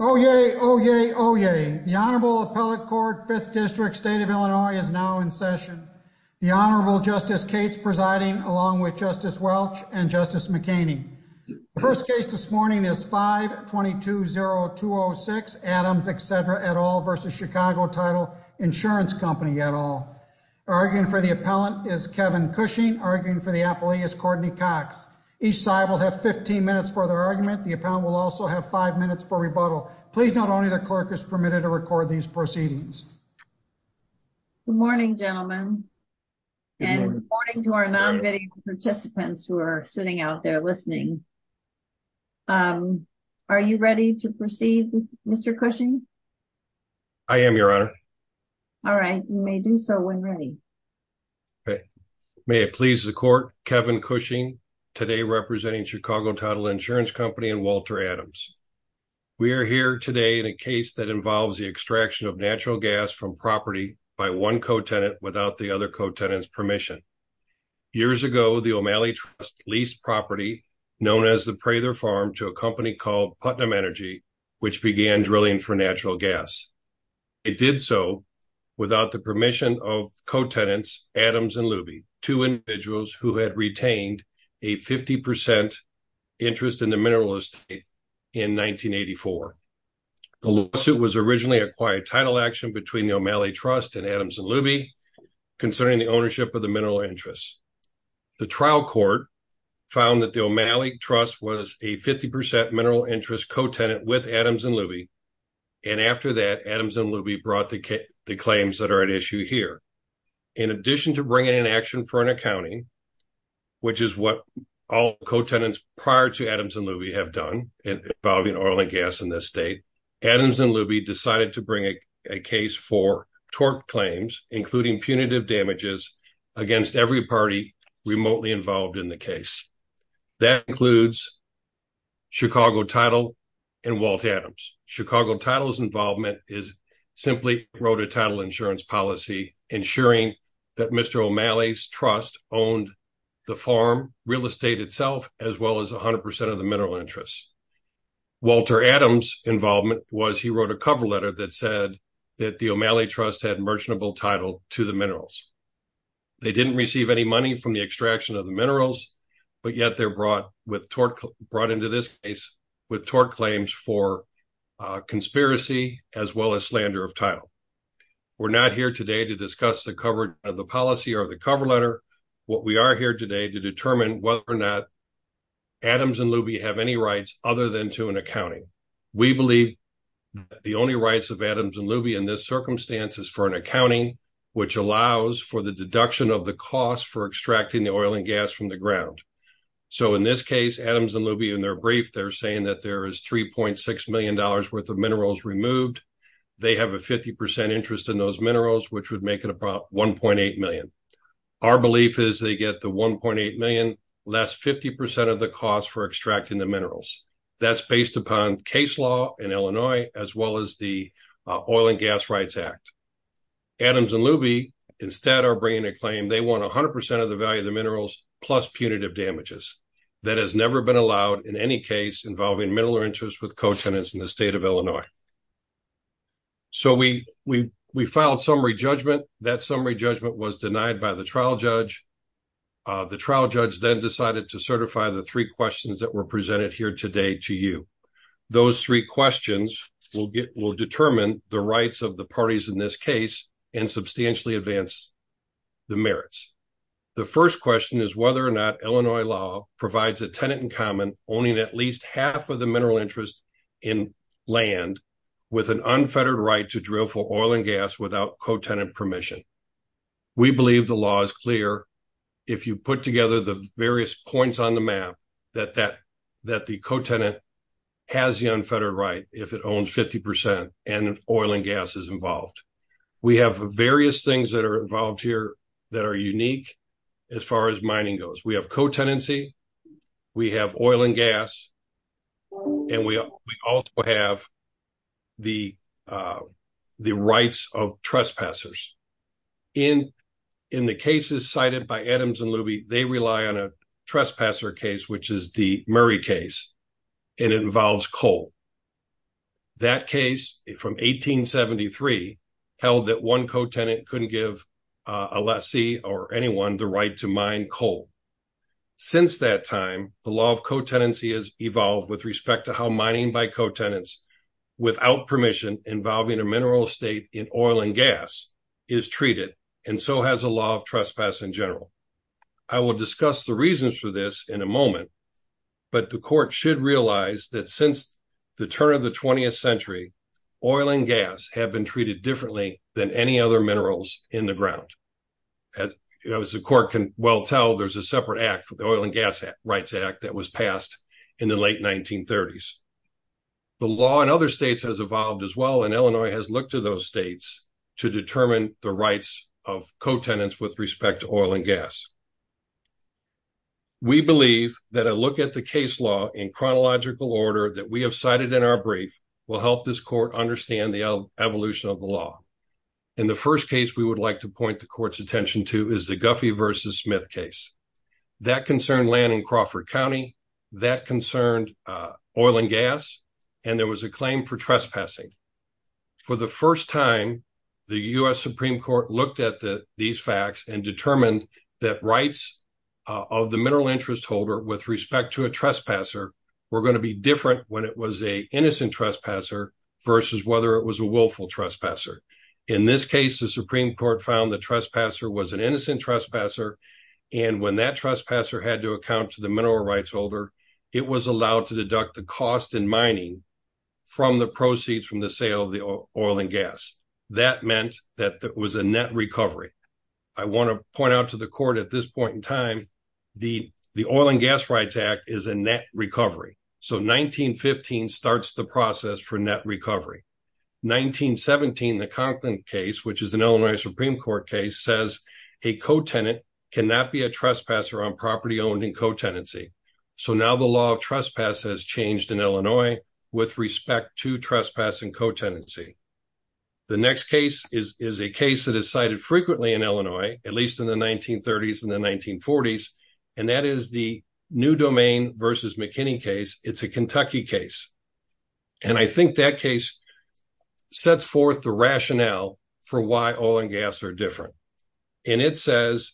Oh, yay. Oh, yay. Oh, yay. The Honorable Appellate Court Fifth District State of Illinois is now in session. The Honorable Justice Cates presiding along with Justice Welch and Justice McKinney. The first case this morning is 5-220-206 Adams, etc. et al. v. Chicago Title Insurance Company et al. Arguing for the appellant is Kevin Cushing. Arguing for the appellee is Courtney Cox. Each side will have 15 minutes for their argument. The appellant will also have 5 minutes for rebuttal. Please note only the clerk is permitted to record these proceedings. Good morning, gentlemen. And good morning to our non-video participants who are sitting out there listening. Are you ready to proceed, Mr. Cushing? I am, Your Honor. All right. You may do so when ready. May it please the Court, Kevin Cushing, today representing Chicago Title Insurance Company and Walter Adams. We are here today in a case that involves the extraction of natural gas from property by one co-tenant without the other co-tenant's permission. Years ago, the O'Malley Trust leased property known as the Prather Farm to a company called Putnam Energy, which began drilling for natural gas. It did so without the permission of co-tenants Adams and Luby, two individuals who had retained a 50% interest in the mineral estate in 1984. The lawsuit was originally a quiet title action between the O'Malley Trust and Adams and Luby concerning the ownership of the mineral interest. The trial court found that the O'Malley Trust was a 50% mineral interest co-tenant with Adams and Luby. And after that, Adams and Luby brought the claims that are at issue here. In addition to bringing an action for an accounting, which is what all co-tenants prior to Adams and Luby have done involving oil and gas in this state, Adams and Luby decided to bring a case for tort claims, including punitive damages, against every party remotely involved in the case. That includes Chicago Title and Walt Adams. Chicago Title's involvement is simply road to title insurance policy, ensuring that Mr. O'Malley's trust owned the farm, real estate itself, as well as 100% of the mineral interest. Walter Adams' involvement was he wrote a cover letter that said that the O'Malley Trust had merchantable title to the minerals. They didn't receive any money from the extraction of the minerals, but yet they're brought into this case with tort claims for conspiracy as well as slander of title. We're not here today to discuss the policy or the cover letter. What we are here today to determine whether or not Adams and Luby have any rights other than to an accounting. We believe the only rights of Adams and Luby in this circumstance is for an accounting, which allows for the deduction of the cost for extracting the oil and gas from the ground. So in this case, Adams and Luby, in their brief, they're saying that there is $3.6 million worth of minerals removed. They have a 50% interest in those minerals, which would make it about $1.8 million. Our belief is they get the $1.8 million less 50% of the cost for extracting the minerals. That's based upon case law in Illinois, as well as the Oil and Gas Rights Act. Adams and Luby instead are bringing a claim they want 100% of the value of the minerals plus punitive damages. That has never been allowed in any case involving mineral interest with co-tenants in the state of Illinois. So we filed summary judgment. That summary judgment was denied by the trial judge. The trial judge then decided to certify the three questions that were presented here today to you. Those three questions will determine the rights of the parties in this case and substantially advance the merits. The first question is whether or not Illinois law provides a tenant in common owning at least half of the mineral interest in land with an unfettered right to drill for oil and gas without co-tenant permission. We believe the law is clear if you put together the various points on the map that the co-tenant has the unfettered right if it owns 50% and oil and gas is involved. We have various things that are involved here that are unique as far as mining goes. We have co-tenancy, we have oil and gas, and we also have the rights of trespassers. In the cases cited by Adams and Luby, they rely on a trespasser case, which is the Murray case, and it involves coal. That case from 1873 held that one co-tenant couldn't give a lessee or anyone the right to mine coal. Since that time, the law of co-tenancy has evolved with respect to how mining by co-tenants without permission involving a mineral estate in oil and gas is treated, and so has a law of trespass in general. I will discuss the reasons for this in a moment, but the court should realize that since the turn of the 20th century, oil and gas have been treated differently than any other minerals in the ground. As the court can well tell, there's a separate act, the Oil and Gas Rights Act, that was passed in the late 1930s. The law in other states has evolved as well, and Illinois has looked to those states to determine the rights of co-tenants with respect to oil and gas. We believe that a look at the case law in chronological order that we have cited in our brief will help this court understand the evolution of the law. In the first case we would like to point the court's attention to is the Guffey v. Smith case. That concerned land in Crawford County, that concerned oil and gas, and there was a claim for trespassing. For the first time, the U.S. Supreme Court looked at these facts and determined that rights of the mineral interest holder with respect to a trespasser were going to be different when it was an innocent trespasser versus whether it was a willful trespasser. In this case, the Supreme Court found the trespasser was an innocent trespasser, and when that trespasser had to account to the mineral rights holder, it was allowed to deduct the cost in mining from the proceeds from the sale of the oil and gas. That meant that there was a net recovery. I want to point out to the court at this point in time, the Oil and Gas Rights Act is a net recovery. So 1915 starts the process for net recovery. 1917, the Conklin case, which is an Illinois Supreme Court case, says a co-tenant cannot be a trespasser on property owned in co-tenancy. So now the law of trespass has changed in Illinois with respect to trespassing co-tenancy. The next case is a case that is cited frequently in Illinois, at least in the 1930s and the 1940s, and that is the New Domain v. McKinney case. It's a Kentucky case, and I think that case sets forth the rationale for why oil and gas are different. And it says,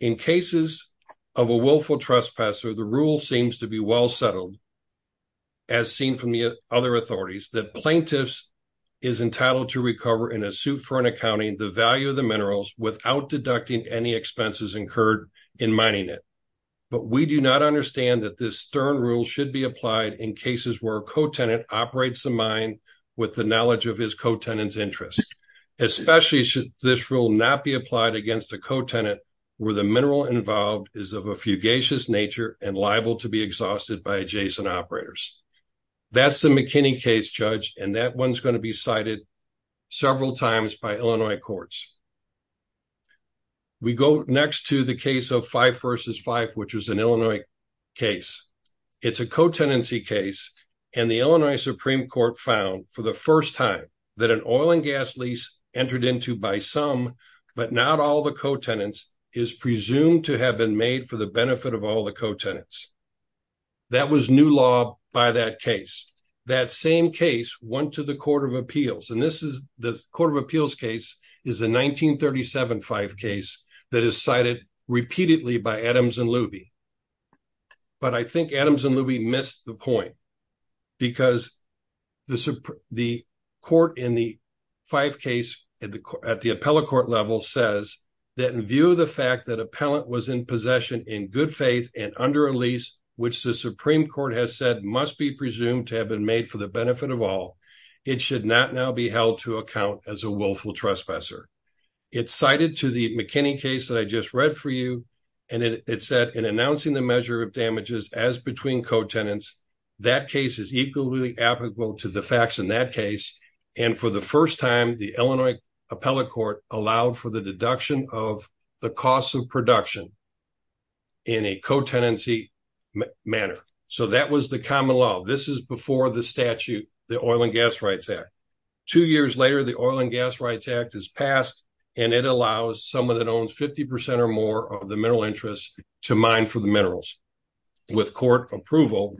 in cases of a willful trespasser, the rule seems to be well settled, as seen from the other authorities, that plaintiffs is entitled to recover in a suit for an accounting the value of the minerals without deducting any expenses incurred in mining it. But we do not understand that this stern rule should be applied in cases where a co-tenant operates the mine with the knowledge of his co-tenant's interests. Especially should this rule not be applied against a co-tenant where the mineral involved is of a fugacious nature and liable to be exhausted by adjacent operators. That's the McKinney case, Judge, and that one's going to be cited several times by Illinois courts. We go next to the case of Fife v. Fife, which was an Illinois case. It's a co-tenancy case, and the Illinois Supreme Court found for the first time that an oil and gas lease entered into by some, but not all the co-tenants, is presumed to have been made for the benefit of all the co-tenants. That was new law by that case. Next, that same case went to the Court of Appeals, and this is the Court of Appeals case is a 1937 Fife case that is cited repeatedly by Adams and Luby. But I think Adams and Luby missed the point because the court in the Fife case at the appellate court level says that in view of the fact that appellant was in possession in good faith and under a lease, which the Supreme Court has said must be presumed to have been made for the benefit of all, it should not now be held to account as a willful trespasser. It's cited to the McKinney case that I just read for you, and it said in announcing the measure of damages as between co-tenants, that case is equally applicable to the facts in that case. And for the first time, the Illinois appellate court allowed for the deduction of the cost of production in a co-tenancy manner. So that was the common law. This is before the statute, the Oil and Gas Rights Act. Two years later, the Oil and Gas Rights Act is passed, and it allows someone that owns 50% or more of the mineral interests to mine for the minerals with court approval.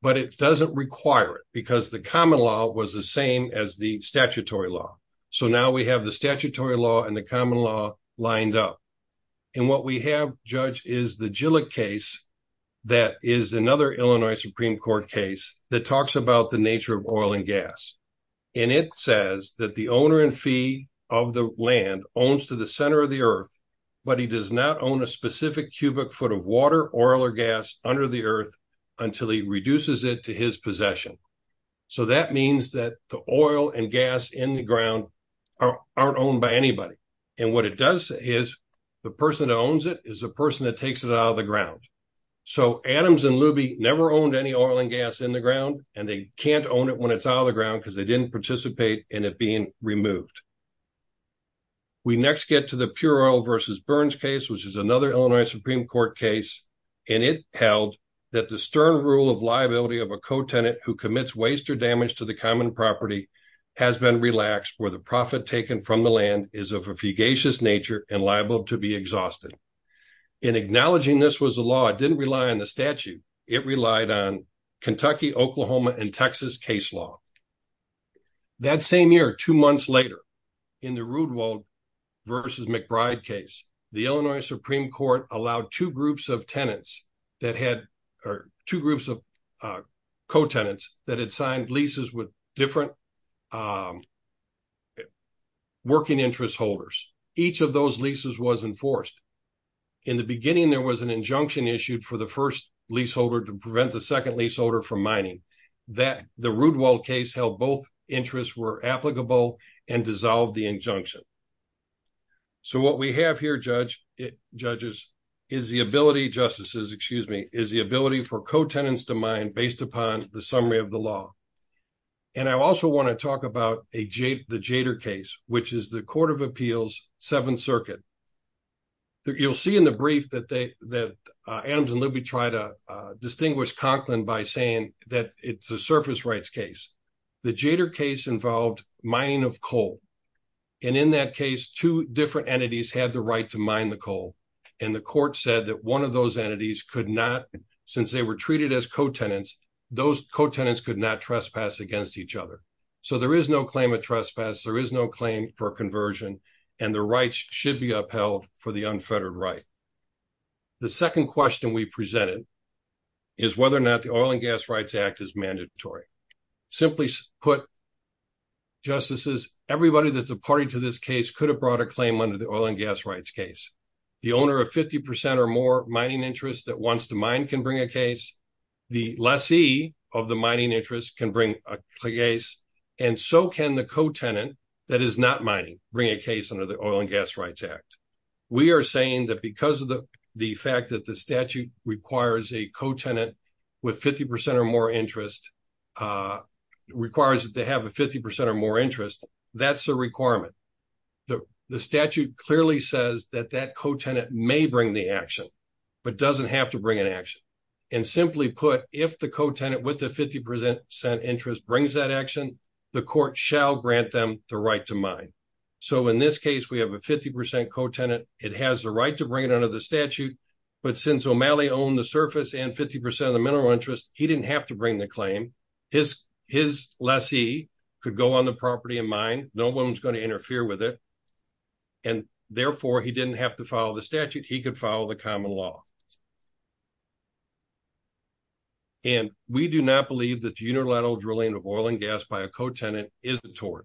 But it doesn't require it because the common law was the same as the statutory law. So now we have the statutory law and the common law lined up. And what we have, Judge, is the Gillick case that is another Illinois Supreme Court case that talks about the nature of oil and gas. And it says that the owner-in-fee of the land owns to the center of the earth, but he does not own a specific cubic foot of water, oil, or gas under the earth until he reduces it to his possession. So that means that the oil and gas in the ground aren't owned by anybody. And what it does is the person that owns it is the person that takes it out of the ground. So Adams and Luby never owned any oil and gas in the ground, and they can't own it when it's out of the ground because they didn't participate in it being removed. We next get to the Pure Oil v. Burns case, which is another Illinois Supreme Court case. And it held that the stern rule of liability of a co-tenant who commits waste or damage to the common property has been relaxed where the profit taken from the land is of a fugacious nature and liable to be exhausted. In acknowledging this was a law, it didn't rely on the statute. It relied on Kentucky, Oklahoma, and Texas case law. That same year, two months later, in the Rudwald v. McBride case, the Illinois Supreme Court allowed two groups of co-tenants that had signed leases with different working interest holders. Each of those leases was enforced. In the beginning there was an injunction issued for the first leaseholder to prevent the second leaseholder from mining. The Rudwald case held both interests were applicable and dissolved the injunction. So what we have here, judges, is the ability for co-tenants to mine based upon the summary of the law. And I also want to talk about the Jader case, which is the Court of Appeals, Seventh Circuit. You'll see in the brief that Adams and Libby try to distinguish Conklin by saying that it's a surface rights case. The Jader case involved mining of coal. And in that case, two different entities had the right to mine the coal. And the court said that one of those entities could not, since they were treated as co-tenants, those co-tenants could not trespass against each other. So there is no claim of trespass, there is no claim for conversion, and the rights should be upheld for the unfettered right. The second question we presented is whether or not the Oil and Gas Rights Act is mandatory. Simply put, justices, everybody that's a party to this case could have brought a claim under the oil and gas rights case. The owner of 50% or more mining interest that wants to mine can bring a case. The lessee of the mining interest can bring a case. And so can the co-tenant that is not mining bring a case under the Oil and Gas Rights Act. We are saying that because of the fact that the statute requires a co-tenant with 50% or more interest, requires that they have a 50% or more interest, that's a requirement. The statute clearly says that that co-tenant may bring the action, but doesn't have to bring an action. And simply put, if the co-tenant with the 50% interest brings that action, the court shall grant them the right to mine. So in this case, we have a 50% co-tenant, it has the right to bring it under the statute, but since O'Malley owned the surface and 50% of the mineral interest, he didn't have to bring the claim. His lessee could go on the property and mine, no one was going to interfere with it. And therefore, he didn't have to follow the statute, he could follow the common law. And we do not believe that unilateral drilling of oil and gas by a co-tenant is a tort.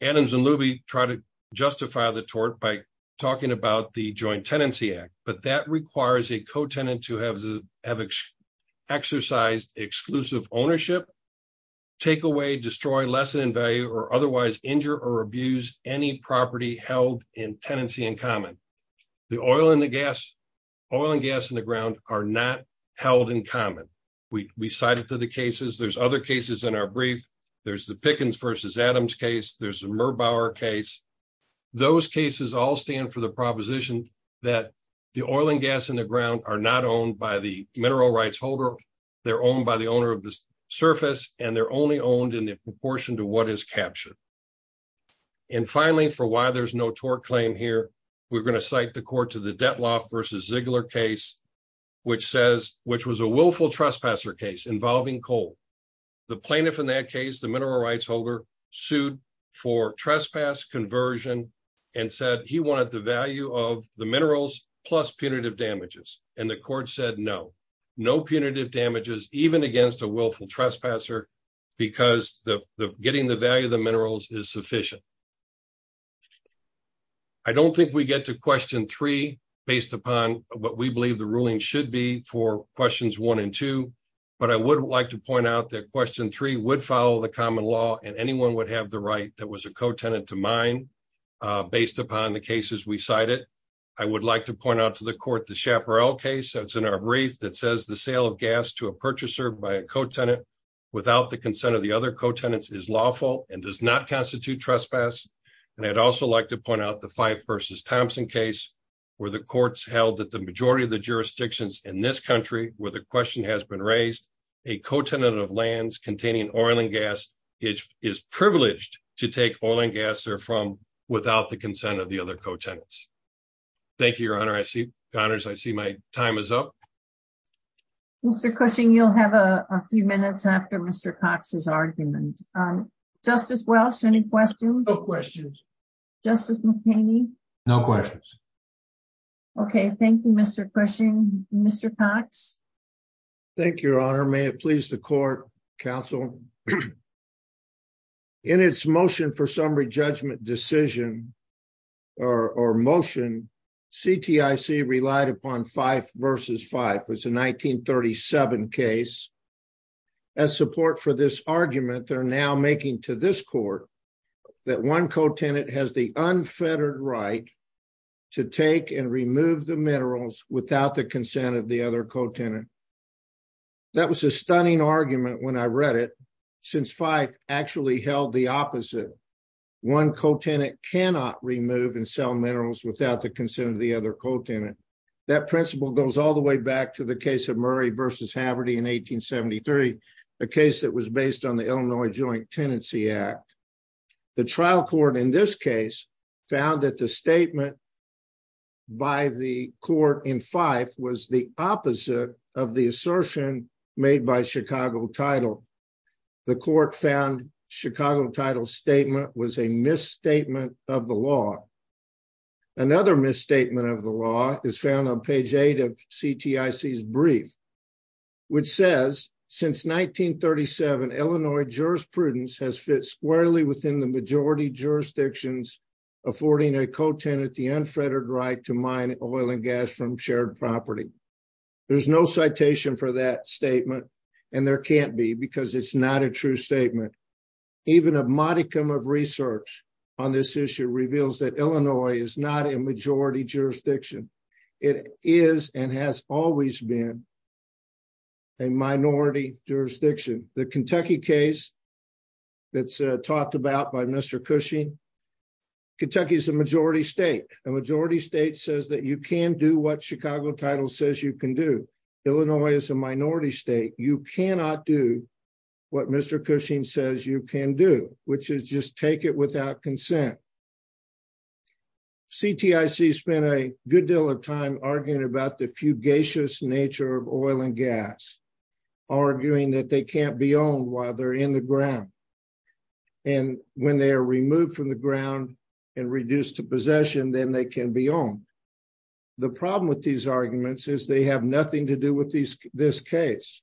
Adams and Luby try to justify the tort by talking about the Joint Tenancy Act, but that requires a co-tenant to have exercised exclusive ownership, take away, destroy, lessen in value, or otherwise injure or abuse any property held in tenancy in common. The oil and gas in the ground are not held in common. We cite it to the cases, there's other cases in our brief, there's the Pickens v. Adams case, there's the Merbauer case. Those cases all stand for the proposition that the oil and gas in the ground are not owned by the mineral rights holder, they're owned by the owner of the surface, and they're only owned in proportion to what is captured. And finally, for why there's no tort claim here, we're going to cite the court to the Detloff v. Ziegler case, which was a willful trespasser case involving coal. The plaintiff in that case, the mineral rights holder, sued for trespass conversion and said he wanted the value of the minerals plus punitive damages. And the court said no, no punitive damages, even against a willful trespasser, because getting the value of the minerals is sufficient. I don't think we get to question three based upon what we believe the ruling should be for questions one and two, but I would like to point out that question three would follow the common law and anyone would have the right that was a co-tenant to mine, based upon the cases we cited. I would like to point out to the court the Chaparral case that's in our brief that says the sale of gas to a purchaser by a co-tenant without the consent of the other co-tenants is lawful and does not constitute trespass. And I'd also like to point out the Fife v. Thompson case where the courts held that the majority of the jurisdictions in this country where the question has been raised, a co-tenant of lands containing oil and gas is privileged to take oil and gas there from without the consent of the other co-tenants. Thank you, Your Honor. I see my time is up. Mr. Cushing, you'll have a few minutes after Mr. Cox's argument. Justice Welch, any questions? No questions. Justice McHaney? No questions. Okay, thank you, Mr. Cushing. Mr. Cox? Thank you, Your Honor. May it please the court, counsel? In its motion for summary judgment decision or motion, CTIC relied upon Fife v. Fife. It's a 1937 case. As support for this argument, they're now making to this court that one co-tenant has the unfettered right to take and remove the minerals without the consent of the other co-tenant. That was a stunning argument when I read it since Fife actually held the opposite. One co-tenant cannot remove and sell minerals without the consent of the other co-tenant. That principle goes all the way back to the case of Murray v. Haverty in 1873, a case that was based on the Illinois Joint Tenancy Act. The trial court in this case found that the statement by the court in Fife was the opposite of the assertion made by Chicago Title. The court found Chicago Title's statement was a misstatement of the law. Another misstatement of the law is found on page 8 of CTIC's brief, which says, Since 1937, Illinois jurisprudence has fit squarely within the majority jurisdictions affording a co-tenant the unfettered right to mine oil and gas from shared property. There's no citation for that statement, and there can't be because it's not a true statement. Even a modicum of research on this issue reveals that Illinois is not a majority jurisdiction. It is and has always been a minority jurisdiction. The Kentucky case that's talked about by Mr. Cushing, Kentucky is a majority state. A majority state says that you can do what Chicago Title says you can do. Illinois is a minority state. You cannot do what Mr. Cushing says you can do, which is just take it without consent. CTIC spent a good deal of time arguing about the fugacious nature of oil and gas, arguing that they can't be owned while they're in the ground. And when they are removed from the ground and reduced to possession, then they can be owned. The problem with these arguments is they have nothing to do with this case.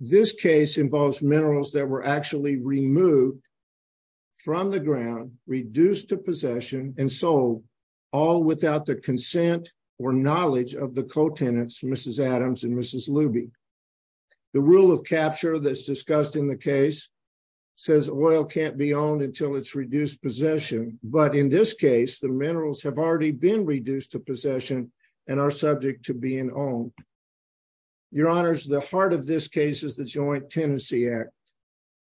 This case involves minerals that were actually removed from the ground, reduced to possession, and sold, all without the consent or knowledge of the co-tenants, Mrs. Adams and Mrs. Luby. The rule of capture that's discussed in the case says oil can't be owned until it's reduced possession. But in this case, the minerals have already been reduced to possession and are subject to being owned. Your Honors, the heart of this case is the Joint Tenancy Act,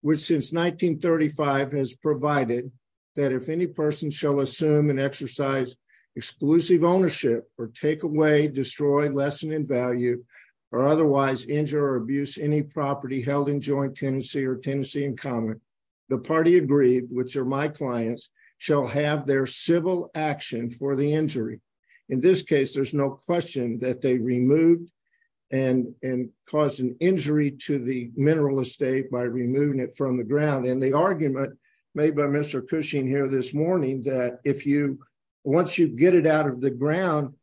which since 1935 has provided that if any person shall assume and exercise exclusive ownership or take away, destroy, lessen in value, or otherwise injure or abuse any property held in joint tenancy or tenancy in common, the party agreed, which are my clients, shall have their civil action for the injury. In this case, there's no question that they removed and caused an injury to the mineral estate by removing it from the ground. And the argument made by Mr. Cushing here this morning that if you, once you get it out of the ground,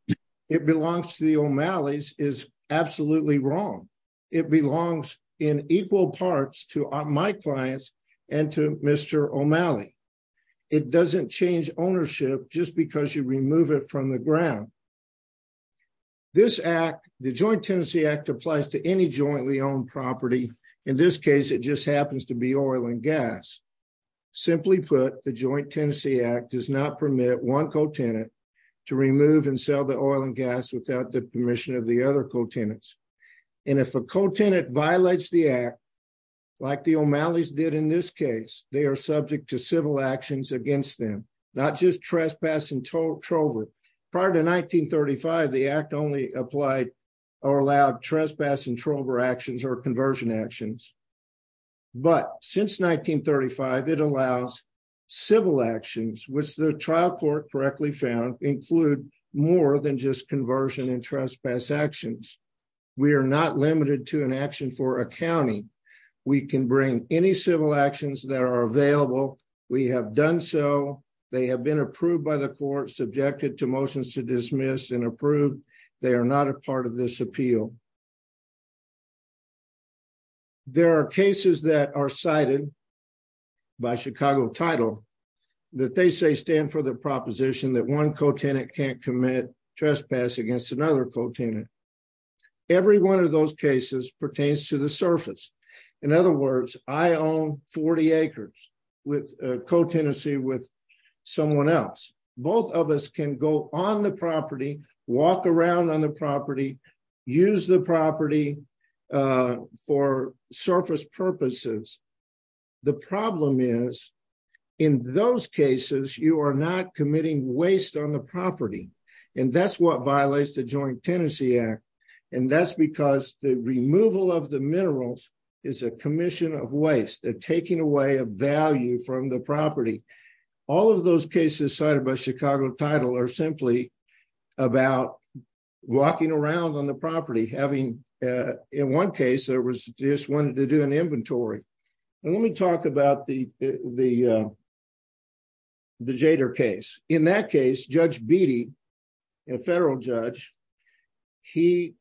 it belongs to the O'Malley's is absolutely wrong. It belongs in equal parts to my clients and to Mr. O'Malley. It doesn't change ownership just because you remove it from the ground. This act, the Joint Tenancy Act applies to any jointly owned property. In this case, it just happens to be oil and gas. Simply put, the Joint Tenancy Act does not permit one co-tenant to remove and sell the oil and gas without the permission of the other co-tenants. And if a co-tenant violates the act, like the O'Malley's did in this case, they are subject to civil actions against them. Not just trespass and trover. Prior to 1935, the act only applied or allowed trespass and trover actions or conversion actions. But since 1935, it allows civil actions, which the trial court correctly found include more than just conversion and trespass actions. We are not limited to an action for accounting. We can bring any civil actions that are available. We have done so. They have been approved by the court, subjected to motions to dismiss and approved. They are not a part of this appeal. There are cases that are cited by Chicago title that they say stand for the proposition that one co-tenant can't commit trespass against another co-tenant. Every one of those cases pertains to the surface. In other words, I own 40 acres with co-tenancy with someone else. Both of us can go on the property, walk around on the property, use the property for surface purposes. The problem is, in those cases, you are not committing waste on the property. And that's what violates the Joint Tenancy Act. And that's because the removal of the minerals is a commission of waste. They're taking away a value from the property. All of those cases cited by Chicago title are simply about walking around on the property. In one case, they just wanted to do an inventory. Let me talk about the Jader case. In that case, Judge Beatty, a federal judge, he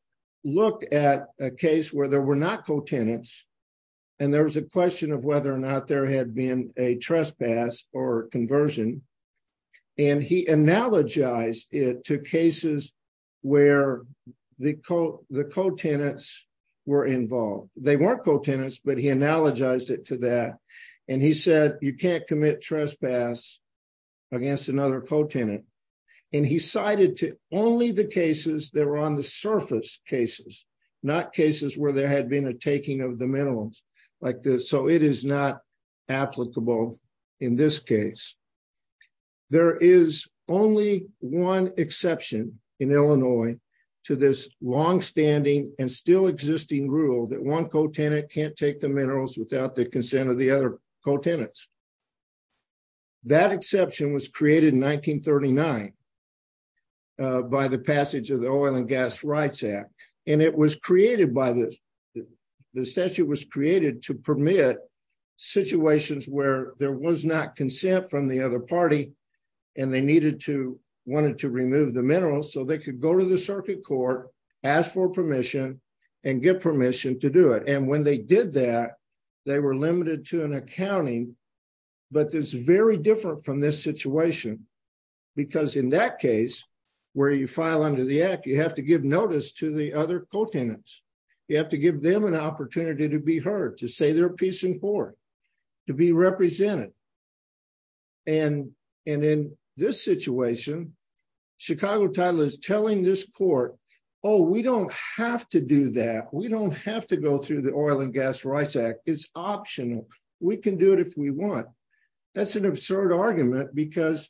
looked at a case where there were not co-tenants. And there was a question of whether or not there had been a trespass or conversion. And he analogized it to cases where the co-tenants were involved. They weren't co-tenants, but he analogized it to that. And he said, you can't commit trespass against another co-tenant. And he cited to only the cases that were on the surface cases, not cases where there had been a taking of the minerals like this. So it is not applicable in this case. There is only one exception in Illinois to this longstanding and still existing rule that one co-tenant can't take the minerals without the consent of the other co-tenants. That exception was created in 1939 by the passage of the Oil and Gas Rights Act. And it was created by this. The statute was created to permit situations where there was not consent from the other party. And they wanted to remove the minerals so they could go to the circuit court, ask for permission, and get permission to do it. And when they did that, they were limited to an accounting. But it's very different from this situation. Because in that case, where you file under the act, you have to give notice to the other co-tenants. You have to give them an opportunity to be heard, to say they're a piece in court, to be represented. And in this situation, Chicago Title is telling this court, oh, we don't have to do that. We don't have to go through the Oil and Gas Rights Act. It's optional. We can do it if we want. That's an absurd argument because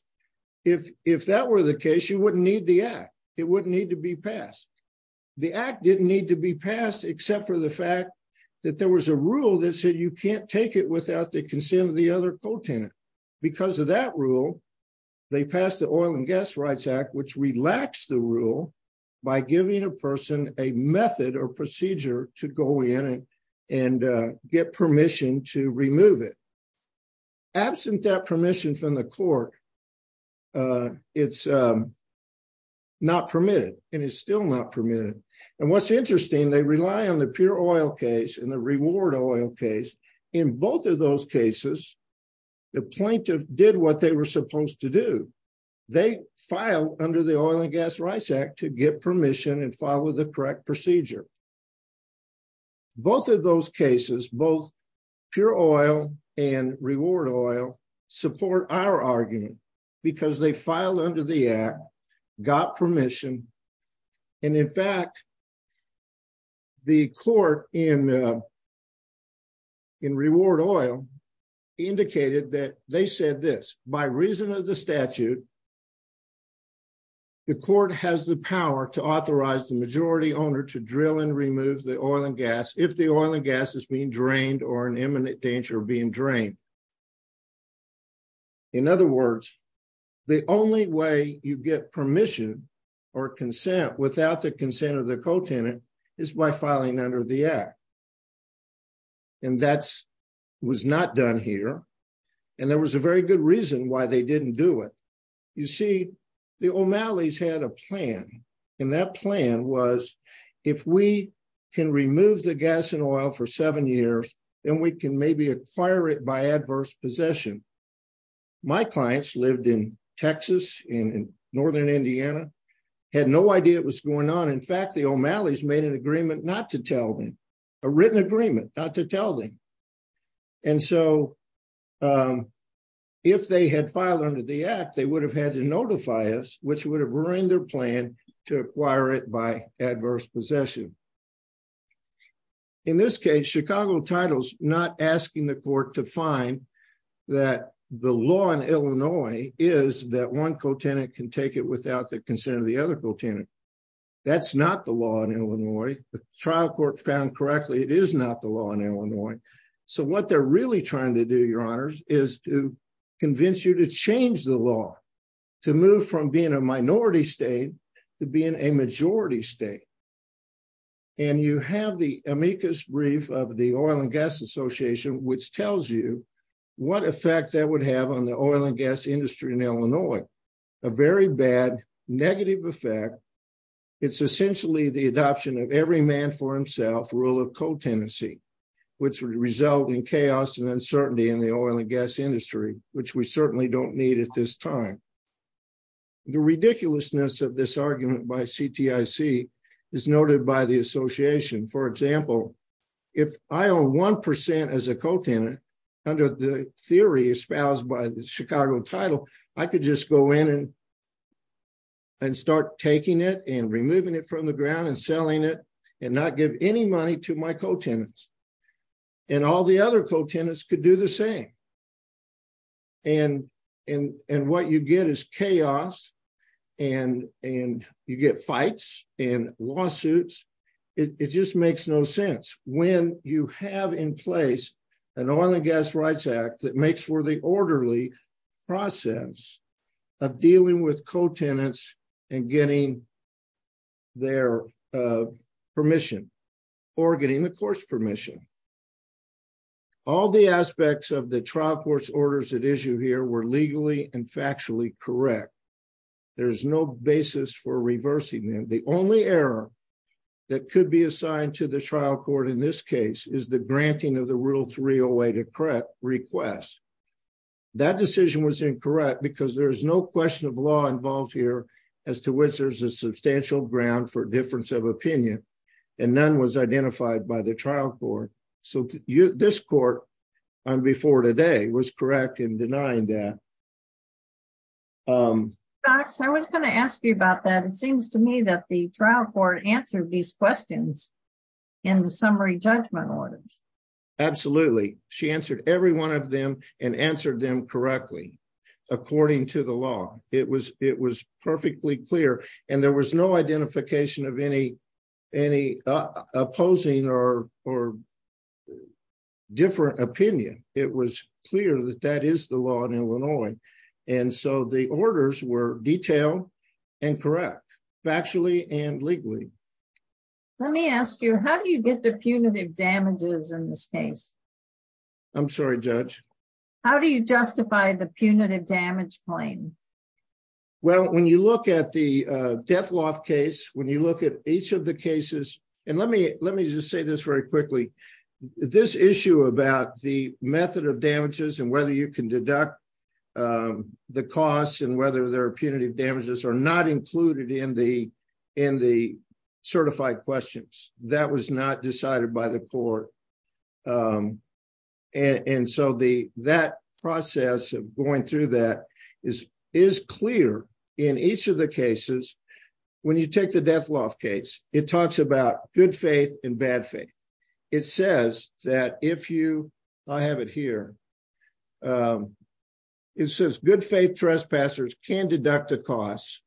if that were the case, you wouldn't need the act. It wouldn't need to be passed. The act didn't need to be passed except for the fact that there was a rule that said you can't take it without the consent of the other co-tenant. Because of that rule, they passed the Oil and Gas Rights Act, which relaxed the rule by giving a person a method or procedure to go in and get permission to remove it. Absent that permission from the court, it's not permitted. And it's still not permitted. And what's interesting, they rely on the pure oil case and the reward oil case. In both of those cases, the plaintiff did what they were supposed to do. They filed under the Oil and Gas Rights Act to get permission and follow the correct procedure. Both of those cases, both pure oil and reward oil, support our argument because they filed under the act, got permission. And in fact, the court in reward oil indicated that they said this. By reason of the statute, the court has the power to authorize the majority owner to drill and remove the oil and gas if the oil and gas is being drained or in imminent danger of being drained. In other words, the only way you get permission or consent without the consent of the co-tenant is by filing under the act. And that was not done here. And there was a very good reason why they didn't do it. You see, the O'Malley's had a plan. And that plan was, if we can remove the gas and oil for seven years, then we can maybe acquire it by adverse possession. My clients lived in Texas, in northern Indiana, had no idea what's going on. In fact, the O'Malley's made an agreement not to tell them, a written agreement not to tell them. And so, if they had filed under the act, they would have had to notify us, which would have ruined their plan to acquire it by adverse possession. In this case, Chicago titles, not asking the court to find that the law in Illinois is that one co-tenant can take it without the consent of the other co-tenant. That's not the law in Illinois. The trial court found correctly it is not the law in Illinois. So, what they're really trying to do, your honors, is to convince you to change the law, to move from being a minority state to being a majority state. And you have the amicus brief of the Oil and Gas Association, which tells you what effect that would have on the oil and gas industry in Illinois. A very bad, negative effect. It's essentially the adoption of every man for himself rule of co-tenancy, which would result in chaos and uncertainty in the oil and gas industry, which we certainly don't need at this time. The ridiculousness of this argument by CTIC is noted by the association. For example, if I own 1% as a co-tenant, under the theory espoused by the Chicago title, I could just go in and start taking it and removing it from the ground and selling it and not give any money to my co-tenants. And all the other co-tenants could do the same. And what you get is chaos and you get fights and lawsuits. It just makes no sense. When you have in place an Oil and Gas Rights Act that makes for the orderly process of dealing with co-tenants and getting their permission or getting the court's permission. All the aspects of the trial court's orders at issue here were legally and factually correct. There is no basis for reversing them. The only error that could be assigned to the trial court in this case is the granting of the Rule 308 request. That decision was incorrect because there is no question of law involved here as to which there is a substantial ground for difference of opinion. And none was identified by the trial court. So this court, before today, was correct in denying that. I was going to ask you about that. It seems to me that the trial court answered these questions in the summary judgment orders. Absolutely. She answered every one of them and answered them correctly, according to the law. It was perfectly clear and there was no identification of any opposing or different opinion. It was clear that that is the law in Illinois. And so the orders were detailed and correct, factually and legally. Let me ask you, how do you get the punitive damages in this case? I'm sorry, Judge. How do you justify the punitive damage claim? Well, when you look at the death law case, when you look at each of the cases, and let me just say this very quickly. This issue about the method of damages and whether you can deduct the costs and whether there are punitive damages are not included in the certified questions. That was not decided by the court. And so that process of going through that is clear in each of the cases. When you take the death law case, it talks about good faith and bad faith. It says that if you have it here, it says good faith trespassers can deduct the costs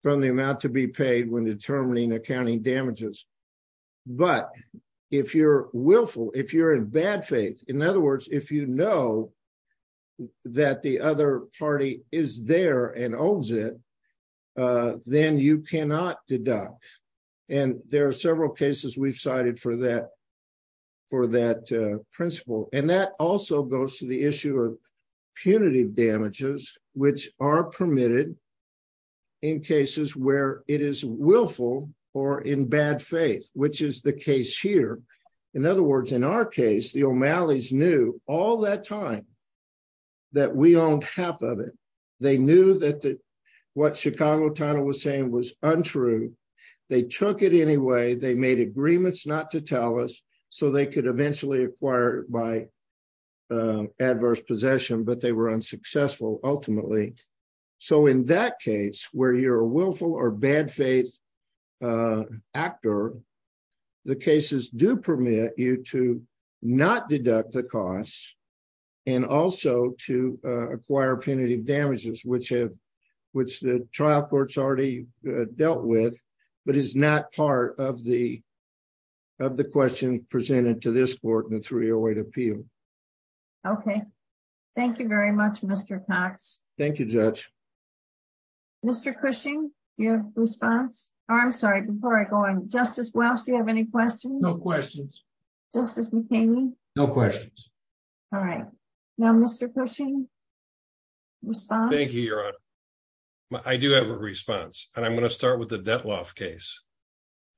from the amount to be paid when determining accounting damages. But if you're willful, if you're in bad faith, in other words, if you know that the other party is there and owns it, then you cannot deduct. And there are several cases we've cited for that principle. And that also goes to the issue of punitive damages, which are permitted in cases where it is willful or in bad faith, which is the case here. In other words, in our case, the O'Malleys knew all that time that we owned half of it. They knew that what Chicago title was saying was untrue. They took it anyway. They made agreements not to tell us so they could eventually acquire by adverse possession, but they were unsuccessful ultimately. So in that case where you're a willful or bad faith actor, the cases do permit you to not deduct the costs and also to acquire punitive damages, which have which the trial courts already dealt with, but is not part of the of the question presented to this court in the 308 appeal. OK, thank you very much, Mr. Cox. Thank you, Judge. Mr. Cushing, your response. I'm sorry. Before I go on, Justice Welch, do you have any questions? No questions. Justice McCain. No questions. All right. Now, Mr. Cushing. Thank you, Your Honor. I do have a response. And I'm going to start with the Detlof case.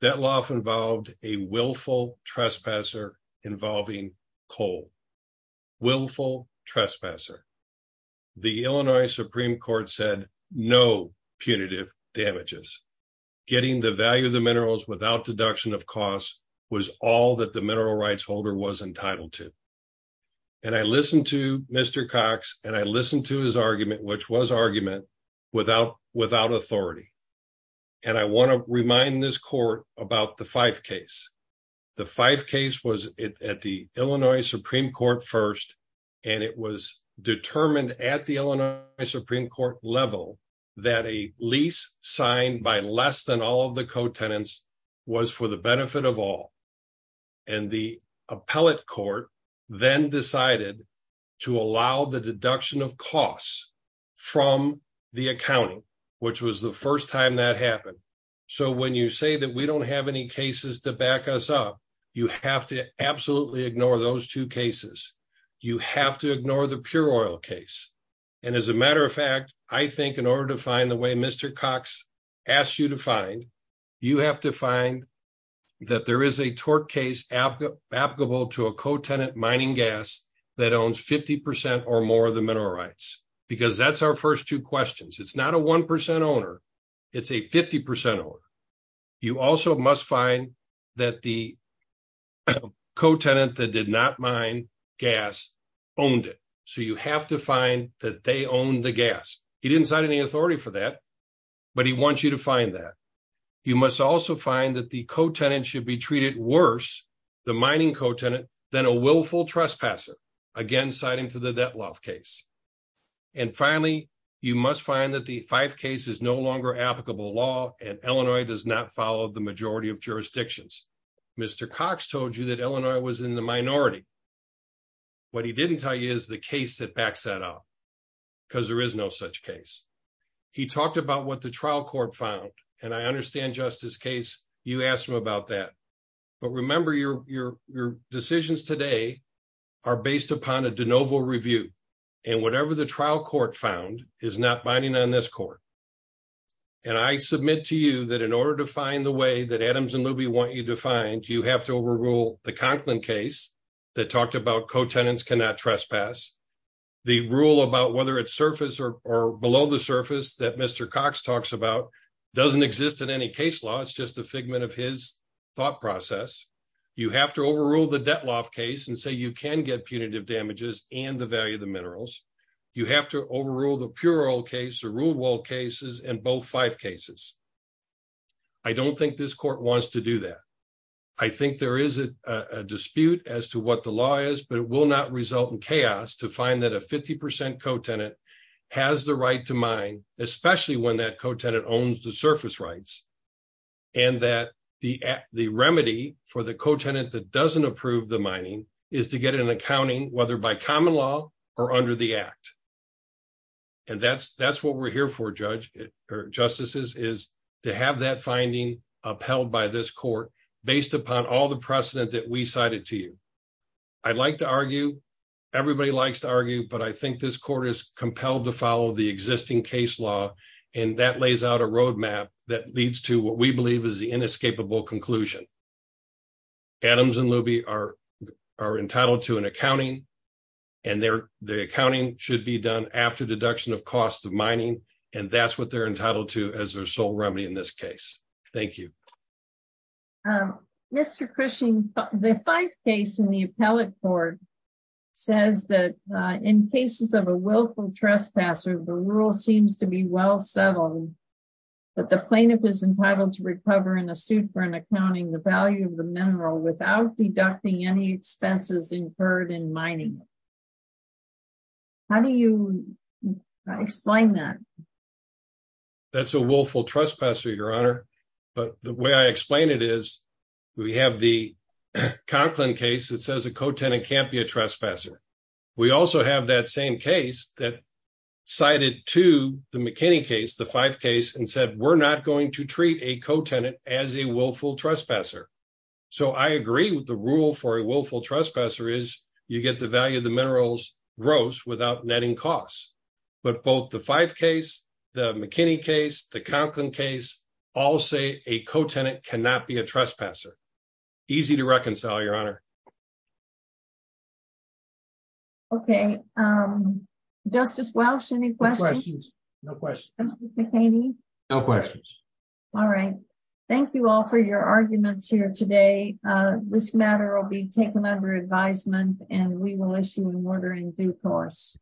Detlof involved a willful trespasser involving coal. Willful trespasser. The Illinois Supreme Court said no punitive damages. Getting the value of the minerals without deduction of costs was all that the mineral rights holder was entitled to. And I listened to Mr. Cox, and I listened to his argument, which was argument without authority. And I want to remind this court about the Fife case. The Fife case was at the Illinois Supreme Court first, and it was determined at the Illinois Supreme Court level that a lease signed by less than all of the co-tenants was for the benefit of all. And the appellate court then decided to allow the deduction of costs from the accounting, which was the first time that happened. So when you say that we don't have any cases to back us up, you have to absolutely ignore those two cases. You have to ignore the pure oil case. And as a matter of fact, I think in order to find the way Mr. Cox asked you to find, you have to find that there is a tort case applicable to a co-tenant mining gas that owns 50% or more of the mineral rights. Because that's our first two questions. It's not a 1% owner. It's a 50% owner. You also must find that the co-tenant that did not mine gas owned it. So you have to find that they own the gas. He didn't cite any authority for that, but he wants you to find that. You must also find that the co-tenant should be treated worse, the mining co-tenant, than a willful trespasser. Again, citing to the debt loss case. And finally, you must find that the Fife case is no longer applicable law, and Illinois does not follow the majority of jurisdictions. Mr. Cox told you that Illinois was in the minority. What he didn't tell you is the case that backs that up, because there is no such case. He talked about what the trial court found, and I understand Justice Case, you asked him about that. But remember, your decisions today are based upon a de novo review. And whatever the trial court found is not binding on this court. And I submit to you that in order to find the way that Adams and Luby want you to find, you have to overrule the Conklin case that talked about co-tenants cannot trespass. The rule about whether it's surface or below the surface that Mr. Cox talks about doesn't exist in any case law. It's just a figment of his thought process. You have to overrule the debt loss case and say you can get punitive damages and the value of the minerals. You have to overrule the pure oil case, the rule wall cases, and both Fife cases. I don't think this court wants to do that. I think there is a dispute as to what the law is, but it will not result in chaos to find that a 50% co-tenant has the right to mine, especially when that co-tenant owns the surface rights. And that the remedy for the co-tenant that doesn't approve the mining is to get an accounting, whether by common law or under the act. And that's what we're here for, judges or justices, is to have that finding upheld by this court based upon all the precedent that we cited to you. I'd like to argue, everybody likes to argue, but I think this court is compelled to follow the existing case law, and that lays out a roadmap that leads to what we believe is the inescapable conclusion. Adams and Luby are entitled to an accounting, and their accounting should be done after deduction of costs of mining, and that's what they're entitled to as their sole remedy in this case. Thank you. Mr. Cushing, the Fife case in the appellate court says that in cases of a willful trespasser, the rule seems to be well settled, that the plaintiff is entitled to recover in a suit for an accounting the value of the mineral without deducting any expenses incurred in mining. How do you explain that? That's a willful trespasser, Your Honor, but the way I explain it is we have the Conklin case that says a co-tenant can't be a trespasser. We also have that same case that cited to the McKinney case, the Fife case, and said we're not going to treat a co-tenant as a willful trespasser. So I agree with the rule for a willful trespasser is you get the value of the minerals gross without netting costs. But both the Fife case, the McKinney case, the Conklin case all say a co-tenant cannot be a trespasser. Easy to reconcile, Your Honor. Okay. Justice Welch, any questions? No questions. Mr. McKinney? No questions. All right. Thank you all for your arguments here today. This matter will be taken under advisement and we will issue an order in due course.